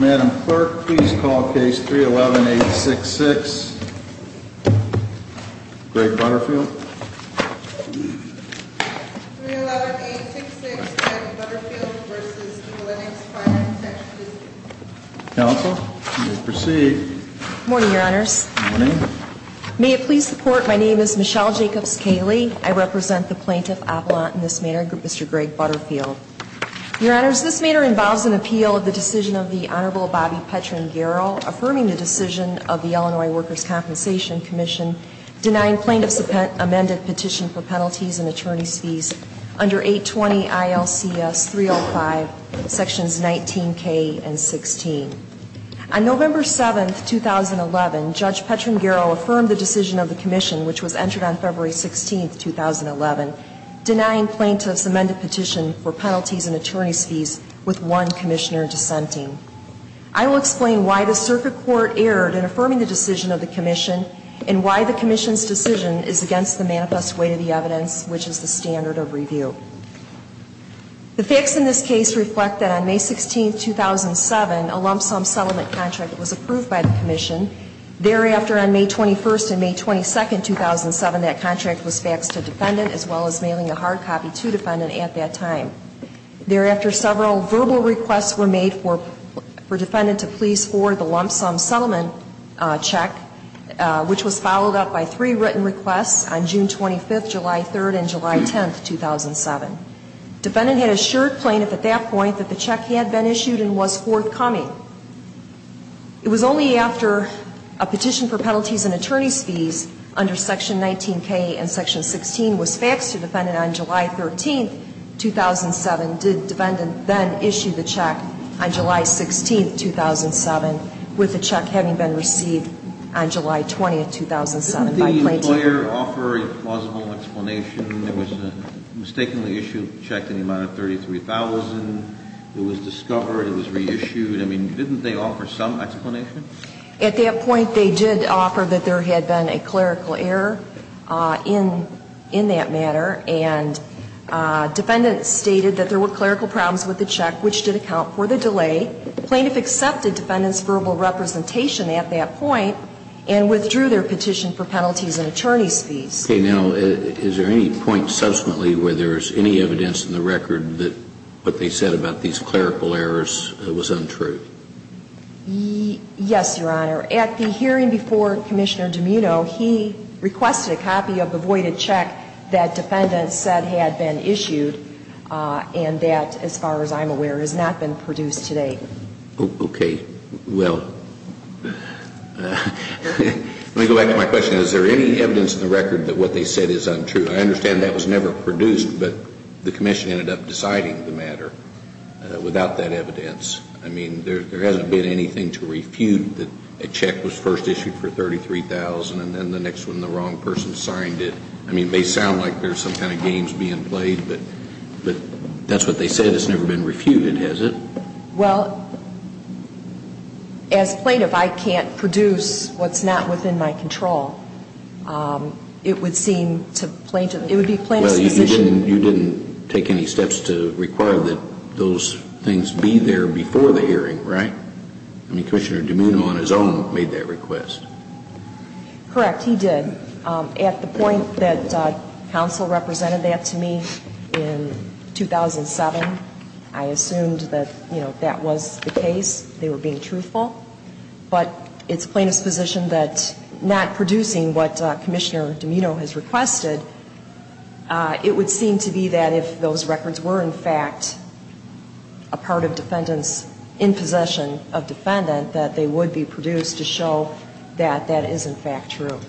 Madam Clerk, please call Case 311-866, Greg Butterfield. 311-866, Greg Butterfield v. Eulenics Finance Section, D.C. Counsel, you may proceed. Good morning, Your Honors. Good morning. May it please the Court, my name is Michelle Jacobs-Kaley. I represent the Plaintiff Appellant in this manner, Mr. Greg Butterfield. Your Honors, this manner involves an appeal of the decision of the Honorable Bobby Petren-Garro, affirming the decision of the Illinois Workers' Compensation Commission, denying plaintiffs' amended petition for penalties and attorney's fees under 820 ILCS 305, Sections 19K and 16. On November 7, 2011, Judge Petren-Garro affirmed the decision of the Commission, which was entered on February 16, 2011, denying plaintiffs' amended petition for penalties and attorney's fees with one commissioner dissenting. I will explain why the Circuit Court erred in affirming the decision of the Commission, and why the Commission's decision is against the manifest weight of the evidence, which is the standard of review. The facts in this case reflect that on May 16, 2007, a lump-sum settlement contract was approved by the Commission. Thereafter, on May 21 and May 22, 2007, that contract was faxed to defendant, as well as mailing a hard copy to defendant at that time. Thereafter, several verbal requests were made for defendant to please forward the lump-sum settlement check, which was followed up by three written requests on June 25, July 3, and July 10, 2007. Defendant had assured plaintiff at that point that the check had been issued and was forthcoming. It was only after a petition for penalties and attorney's fees under Section 19K and Section 16 was faxed to defendant on July 13, 2007, did defendant then issue the check on July 16, 2007, with the check having been received on July 20, 2007, by plaintiff. Didn't the employer offer a plausible explanation? It was a mistakenly issued check in the amount of $33,000. It was discovered. It was reissued. I mean, didn't they offer some explanation? At that point, they did offer that there had been a clerical error in that matter. And defendant stated that there were clerical problems with the check, which did account for the delay. Plaintiff accepted defendant's verbal representation at that point and withdrew their petition for penalties and attorney's fees. Okay. Now, is there any point subsequently where there is any evidence in the record that what they said about these clerical errors was untrue? Yes, Your Honor. At the hearing before Commissioner DiMino, he requested a copy of the voided check that defendant said had been issued and that, as far as I'm aware, has not been produced to date. Okay. Well, let me go back to my question. Is there any evidence in the record that what they said is untrue? I understand that was never produced, but the commission ended up deciding the matter without that evidence. I mean, there hasn't been anything to refute that a check was first issued for $33,000 and then the next one the wrong person signed it. I mean, they sound like there's some kind of games being played, but that's what they said. It's never been refuted, has it? Well, as plaintiff, I can't produce what's not within my control. It would seem to plaintiff, it would be plaintiff's position. Well, you didn't take any steps to require that those things be there before the hearing, right? I mean, Commissioner DiMino on his own made that request. Correct, he did. At the point that counsel represented that to me in 2007, I assumed that, you know, that was the case. They were being truthful. But it's plaintiff's position that not producing what Commissioner DiMino has requested, it would seem to be that if those records were, in fact, a part of defendant's in possession of defendant, that they would be produced to show that that is, in fact, true.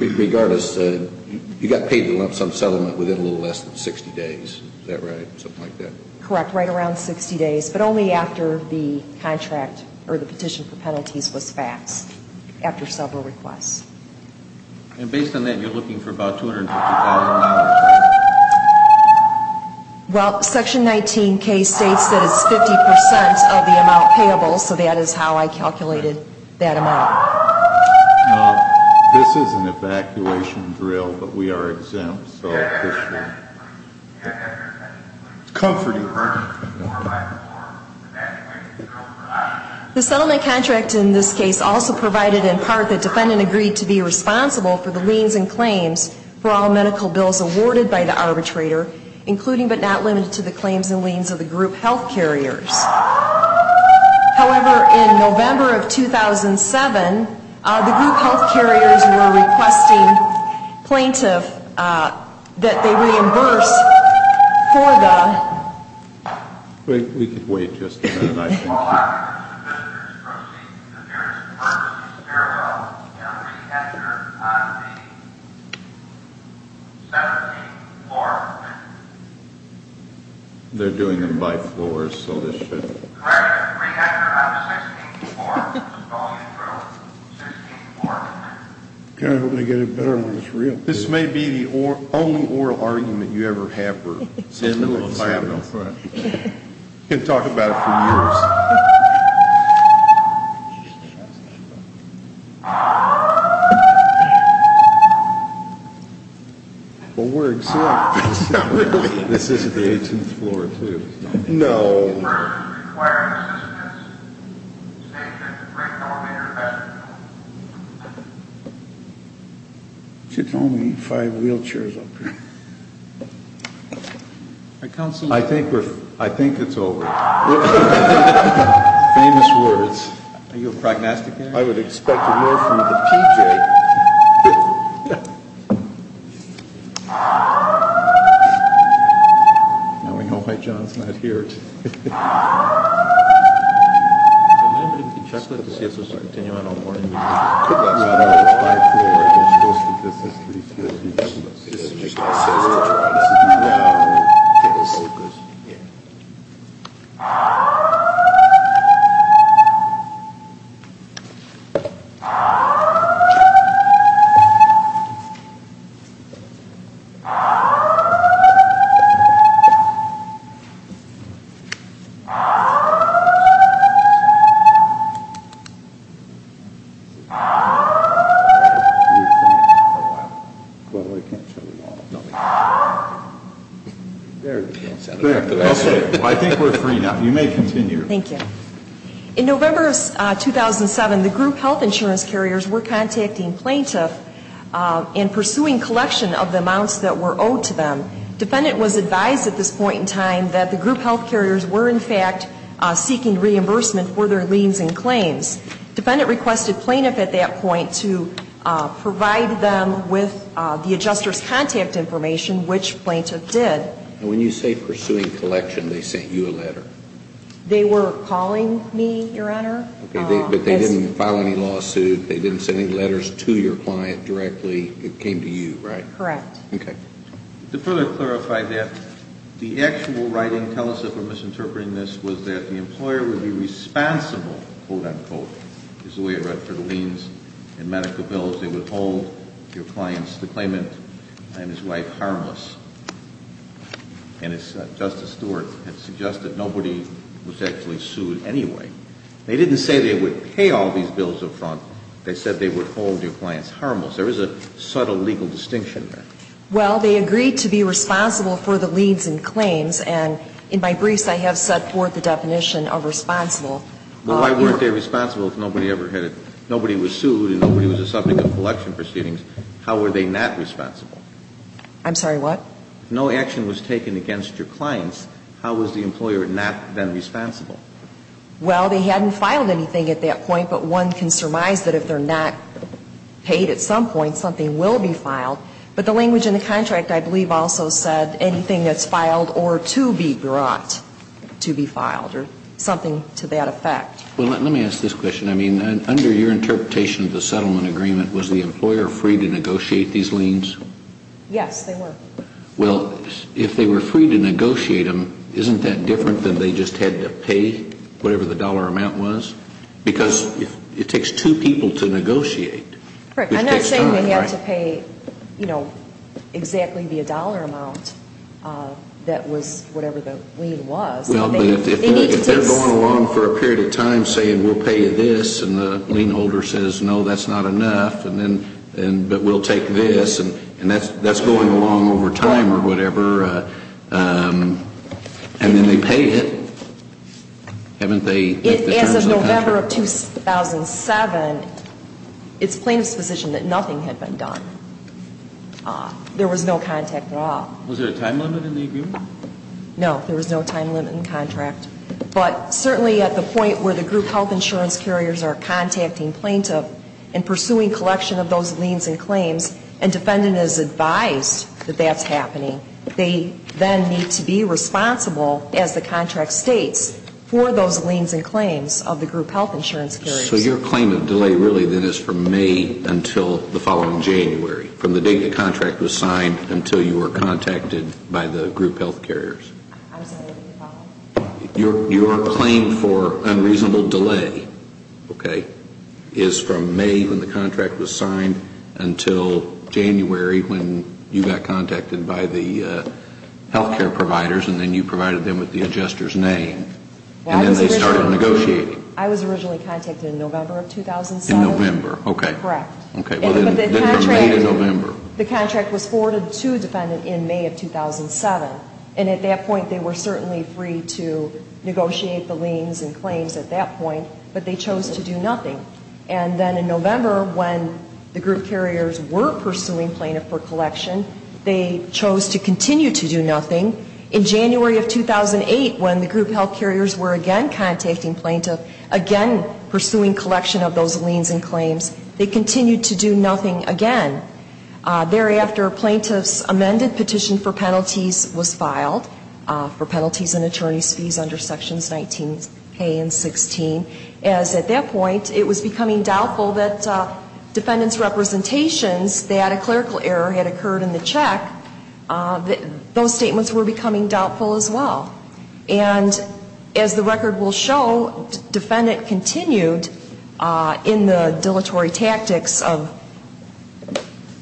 Regardless, you got paid some settlement within a little less than 60 days, is that right, something like that? Correct, right around 60 days, but only after the contract or the petition for penalties was faxed, after several requests. And based on that, you're looking for about $250,000? Well, Section 19K states that it's 50% of the amount payable, so that is how I calculated that amount. This is an evacuation drill, but we are exempt, so it's comforting. The settlement contract in this case also provided in part that defendant agreed to be responsible for the liens and claims for all medical bills awarded by the arbitrator, including but not limited to the claims and liens of the group health carriers. However, in November of 2007, the group health carriers were requesting plaintiff that they reimburse for the Wait, we could wait just a minute, I can't hear you. All applicants and visitors proceed to various purposes, farewell, and re-enter on the 17th floor. They're doing them by floors, so this should... Correct, re-enter on the 16th floor. I hope they get it better when it's real. This may be the only oral argument you ever have for a settlement settlement. You can talk about it for years. Well, we're exempt. Not really. This is the 18th floor, too. No. Requiring assistance. Station. It's only five wheelchairs up here. I think it's over. Famous words. Are you a prognosticator? I would expect more from the PJ. Yeah. Now we know why John's not here. I'm going to leave the checklist to see if this will continue. I don't want to... That's fine. It's five floors. I guess most of this is three floors. This is just a settlement. Yeah. Focus. Yeah. I think we're free now. You may continue. Thank you. In November 2007, the group health insurance carriers were contacting plaintiffs and pursuing collection of the amounts that were owed to them. Defendant was advised at this point in time that the group health carriers were, in fact, seeking reimbursement for their liens and claims. Defendant requested plaintiff at that point to provide them with the adjuster's contact information, which plaintiff did. And when you say pursuing collection, they sent you a letter? They were calling me, Your Honor. But they didn't file any lawsuit. They didn't send any letters to your client directly. It came to you, right? Correct. Okay. To further clarify that, the actual writing, tell us if we're misinterpreting this, was that the employer would be responsible, quote, unquote, is the way it read for the liens and medical bills, they would hold your client's claimant and his wife harmless. And as Justice Stewart had suggested, nobody was actually sued anyway. They didn't say they would pay all these bills up front. They said they would hold your clients harmless. There is a subtle legal distinction there. Well, they agreed to be responsible for the liens and claims. And in my briefs, I have set forth the definition of responsible. Well, why weren't they responsible if nobody ever had, nobody was sued and nobody was a subject of collection proceedings? How were they not responsible? I'm sorry, what? No action was taken against your clients. How was the employer not then responsible? Well, they hadn't filed anything at that point. But one can surmise that if they're not paid at some point, something will be filed. But the language in the contract, I believe, also said anything that's filed or to be brought to be filed or something to that effect. Well, let me ask this question. I mean, under your interpretation of the settlement agreement, was the employer free to negotiate these liens? Yes, they were. Well, if they were free to negotiate them, isn't that different than they just had to pay whatever the dollar amount was? Because it takes two people to negotiate. I'm not saying they had to pay, you know, exactly the dollar amount that was whatever the lien was. Well, but if they're going along for a period of time saying we'll pay you this and the lien holder says no, that's not enough, but we'll take this, and that's going along over time or whatever, and then they pay it, haven't they? As of November of 2007, it's plaintiff's position that nothing had been done. There was no contact at all. Was there a time limit in the agreement? No, there was no time limit in the contract. But certainly at the point where the group health insurance carriers are contacting plaintiff and pursuing collection of those liens and claims and defendant is advised that that's happening, they then need to be responsible, as the contract states, for those liens and claims of the group health insurance carriers. So your claim of delay really then is from May until the following January, from the date the contract was signed until you were contacted by the group health carriers? I'm sorry, what did you call me? Your claim for unreasonable delay, okay, is from May when the contract was signed until January when you got contacted by the group health insurance carriers. The health care providers, and then you provided them with the adjuster's name. And then they started negotiating. I was originally contacted in November of 2007. In November, okay. Correct. Okay, well, then from May to November. The contract was forwarded to a defendant in May of 2007. And at that point, they were certainly free to negotiate the liens and claims at that point, but they chose to do nothing. And then in November, when the group carriers were pursuing plaintiff for collection, they chose to continue to do nothing. In January of 2008, when the group health carriers were again contacting plaintiff, again pursuing collection of those liens and claims, they continued to do nothing again. Thereafter, plaintiff's amended petition for penalties was filed for penalties and attorney's fees under Sections 19K and 16, as at that point, it was becoming doubtful that defendant's representations that a clerical error had occurred in the check, those statements were becoming doubtful as well. And as the record will show, defendant continued in the dilatory tactics of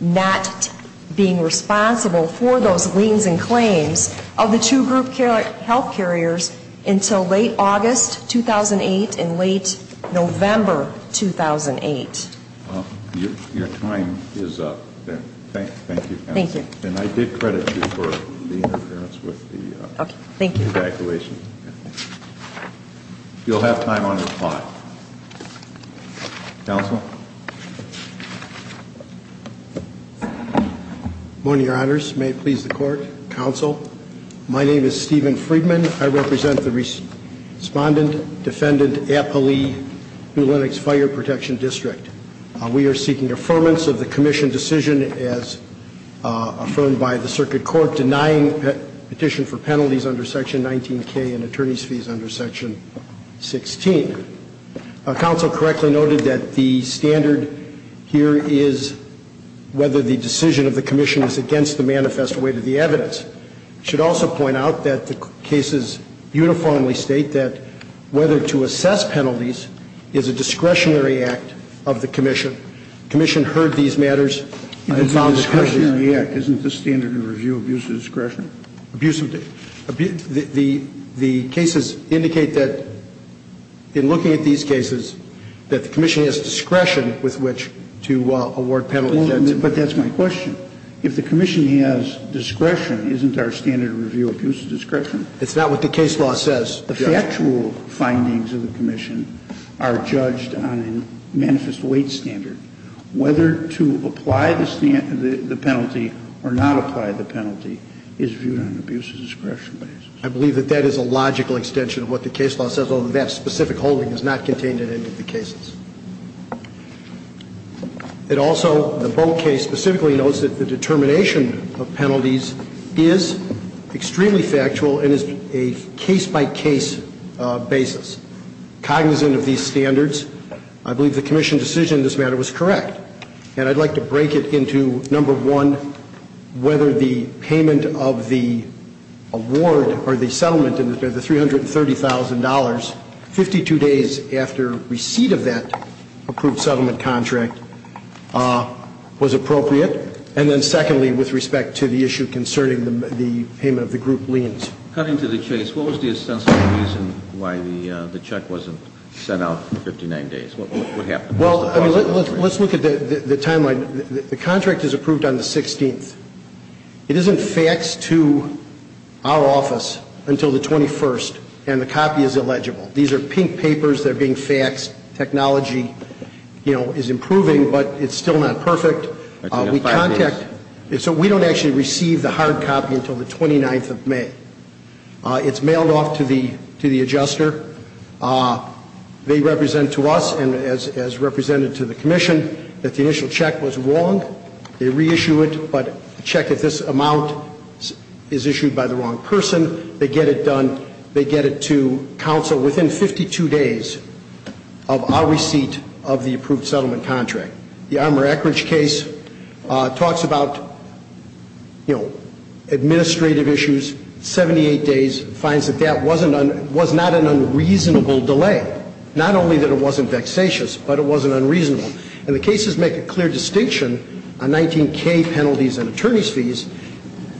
not being responsible for those liens and claims of the two group health carriers until late August 2008 and late November 2008. Well, your time is up then. Thank you. Thank you. And I did credit you for the interference with the evacuation. Okay, thank you. You'll have time on your clock. Counsel? Good morning, Your Honors. May it please the Court. Counsel, my name is Stephen Friedman. I represent the Respondent-Defendant Appellee New Lenox Fire Protection District. We are seeking affirmance of the commission decision as affirmed by the Circuit Court denying petition for penalties under Section 19K and attorney's fees under Section 16. Counsel correctly noted that the standard here is whether the decision of the commission is against the manifest way to the evidence. I should also point out that the cases uniformly state that whether to assess penalties is a discretionary act of the commission. The commission heard these matters and found discretionary. Isn't the standard in review abuse of discretion? The cases indicate that in looking at these cases, that the commission has discretion with which to award penalties. But that's my question. If the commission has discretion, isn't our standard of review abuse of discretion? It's not what the case law says. The factual findings of the commission are judged on a manifest weight standard. Whether to apply the penalty or not apply the penalty is viewed on an abuse of discretion basis. I believe that that is a logical extension of what the case law says, although that specific holding is not contained in any of the cases. It also, the Bogue case specifically notes that the determination of penalties is extremely factual and is a case-by-case basis, cognizant of these standards. I believe the commission decision in this matter was correct. And I'd like to break it into, number one, whether the payment of the award or the settlement, the $330,000, 52 days after receipt of that approved settlement contract, was appropriate. And then secondly, with respect to the issue concerning the payment of the group liens. Cutting to the chase, what was the essential reason why the check wasn't sent out for 59 days? What happened? Well, let's look at the timeline. The contract is approved on the 16th. It isn't faxed to our office until the 21st, and the copy is illegible. These are pink papers that are being faxed. Technology, you know, is improving, but it's still not perfect. So we don't actually receive the hard copy until the 29th of May. It's mailed off to the adjuster. They represent to us, and as represented to the commission, that the initial check was wrong. They reissue it, but check if this amount is issued by the wrong person. They get it done. They get it to counsel within 52 days of our receipt of the approved settlement contract. The Armour-Eckridge case talks about, you know, administrative issues, 78 days, finds that that was not an unreasonable delay. Not only that it wasn't vexatious, but it wasn't unreasonable. And the cases make a clear distinction on 19K penalties and attorney's fees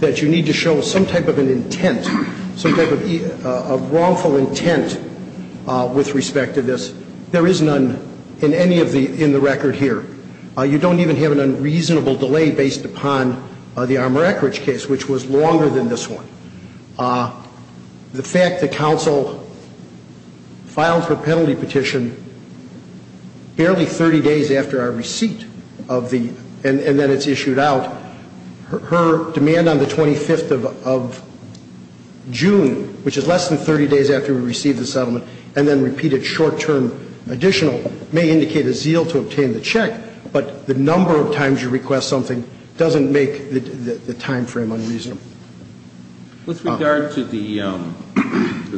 that you need to show some type of an intent, some type of wrongful intent with respect to this. There is none in any of the, in the record here. You don't even have an unreasonable delay based upon the Armour-Eckridge case, which was longer than this one. The fact that counsel filed for penalty petition barely 30 days after our receipt of the, and then it's issued out, her demand on the 25th of June, which is less than 30 days after we received the settlement, and then repeated short-term additional may indicate a zeal to obtain the check, but the number of times you request something doesn't make the timeframe unreasonable. With regard to the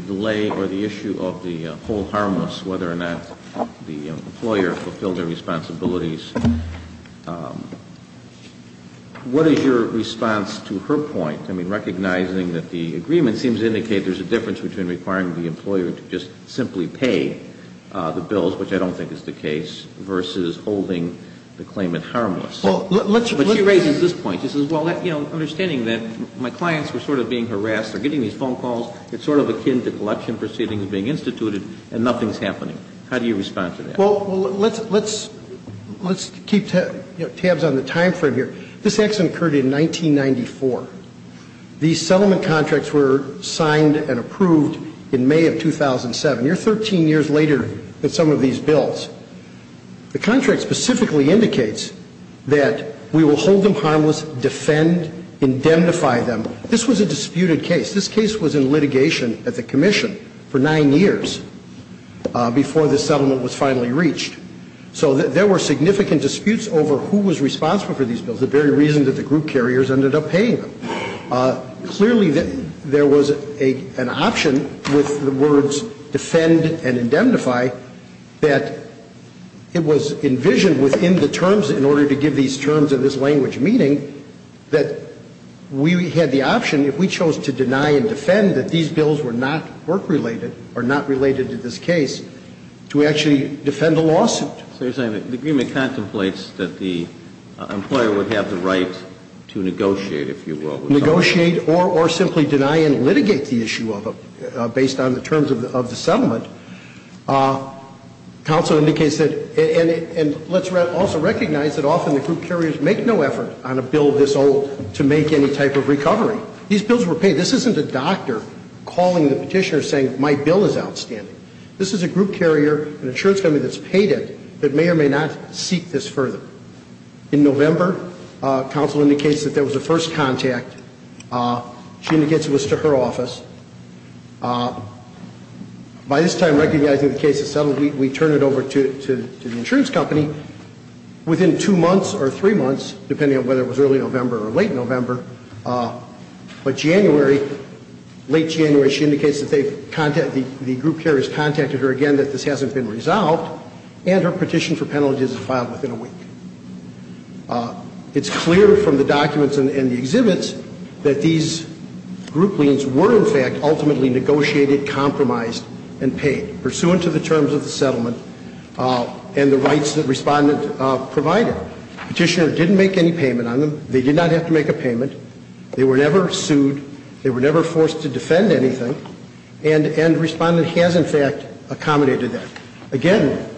delay or the issue of the whole harmless, whether or not the employer fulfilled their responsibilities, what is your response to her point? I mean, recognizing that the agreement seems to indicate there's a difference between requiring the employer to just simply pay the bills, which I don't think is the case, versus holding the claimant harmless. But she raises this point. She says, well, you know, understanding that my clients were sort of being harassed, they're getting these phone calls, it's sort of akin to collection proceedings being instituted, and nothing's happening. How do you respond to that? Well, let's keep tabs on the timeframe here. This accident occurred in 1994. These settlement contracts were signed and approved in May of 2007. You're 13 years later than some of these bills. The contract specifically indicates that we will hold them harmless, defend, indemnify them. This was a disputed case. This case was in litigation at the commission for nine years before the settlement was finally reached. So there were significant disputes over who was responsible for these bills. The very reason that the group carriers ended up paying them. Clearly, there was an option with the words defend and indemnify that it was envisioned within the terms in order to give these terms in this language, meaning that we had the option, if we chose to deny and defend, that these bills were not work-related or not related to this case, to actually defend a lawsuit. The agreement contemplates that the employer would have the right to negotiate, if you will. Negotiate or simply deny and litigate the issue of them, based on the terms of the settlement. Counsel indicates that, and let's also recognize that often the group carriers make no effort on a bill this old to make any type of recovery. These bills were paid. This isn't a doctor calling the petitioner saying my bill is outstanding. This is a group carrier, an insurance company that's paid it, that may or may not seek this further. In November, counsel indicates that there was a first contact. She indicates it was to her office. By this time, recognizing the case is settled, we turn it over to the insurance company. Within two months or three months, depending on whether it was early November or late hasn't been resolved, and her petition for penalties is filed within a week. It's clear from the documents and the exhibits that these group liens were, in fact, ultimately negotiated, compromised, and paid, pursuant to the terms of the settlement and the rights that Respondent provided. Petitioner didn't make any payment on them. They did not have to make a payment. They were never sued. They were never forced to defend anything. And Respondent has, in fact, accommodated that. Again,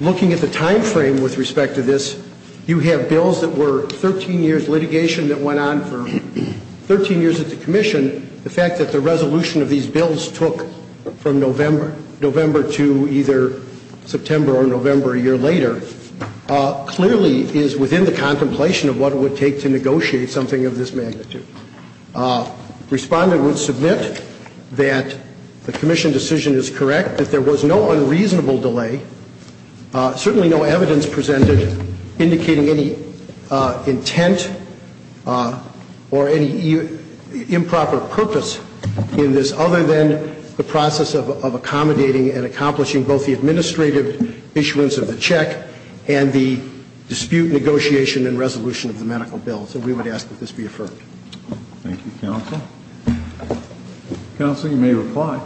looking at the time frame with respect to this, you have bills that were 13 years litigation that went on for 13 years at the Commission. The fact that the resolution of these bills took from November to either September or November a year later clearly is within the contemplation of what it would take to negotiate something of this magnitude. Respondent would submit that the Commission decision is correct, that there was no unreasonable delay, certainly no evidence presented indicating any intent or any improper purpose in this other than the process of accommodating and accomplishing both the administrative issuance of the check and the dispute negotiation and resolution of the medical bill. So we would ask that this be affirmed. Thank you, Counsel. Counsel, you may reply.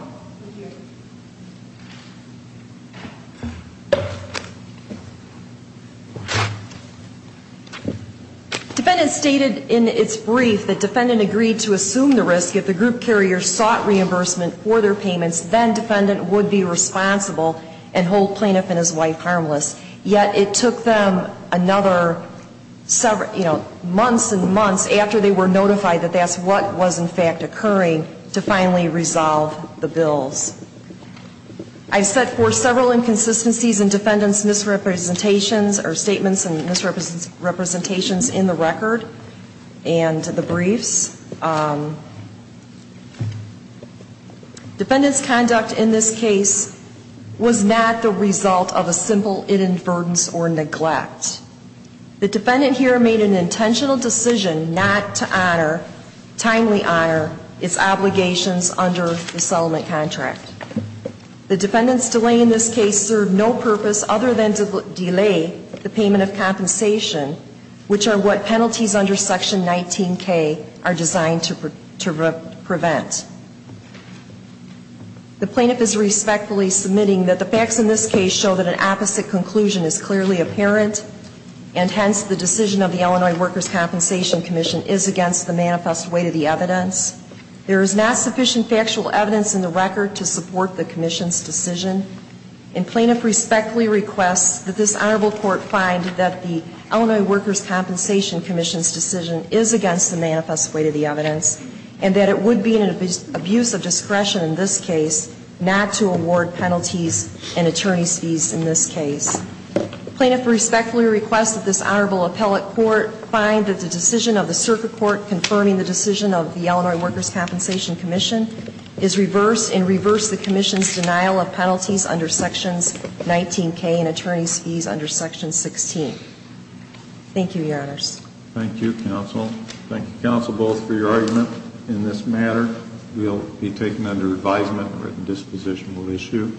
Defendant stated in its brief that Defendant agreed to assume the risk if the group carrier sought reimbursement for their payments, then Defendant would be responsible and hold Plaintiff and his wife harmless. Yet it took them another several, you know, months and months after they were notified that that's what was in fact occurring to finally resolve the bills. I've set forth several inconsistencies in Defendant's misrepresentations or statements and misrepresentations in the record and the briefs. Defendant's conduct in this case was not the result of a simple inadvertence or neglect. The Defendant here made an intentional decision not to honor, timely honor its obligations under the settlement contract. The Defendant's delay in this case served no purpose other than to delay the payment of compensation, which are what penalties under Section 19K are designed to prevent. The Plaintiff is respectfully submitting that the facts in this case show that an opposite conclusion is clearly apparent and hence the decision of the Illinois Workers' Compensation Commission is against the manifest way to the evidence. There is not sufficient factual evidence in the record to support the Commission's decision and Plaintiff respectfully requests that this Honorable Court find that the Illinois Workers' Compensation Commission's decision is against the manifest way to the evidence and that it would be an abuse of discretion in this case not to award penalties and attorney's fees in this case. Plaintiff respectfully requests that this Honorable Appellate Court find that the decision of the Circuit Court confirming the decision of the Illinois Workers' Compensation Commission is reverse and reverse the Commission's denial of penalties under Sections 19K and attorney's fees under Section 16. Thank you, Your Honors. Thank you, Counsel. Thank you, Counsel, both, for your argument in this matter. We'll be taking it under advisement, written disposition will issue.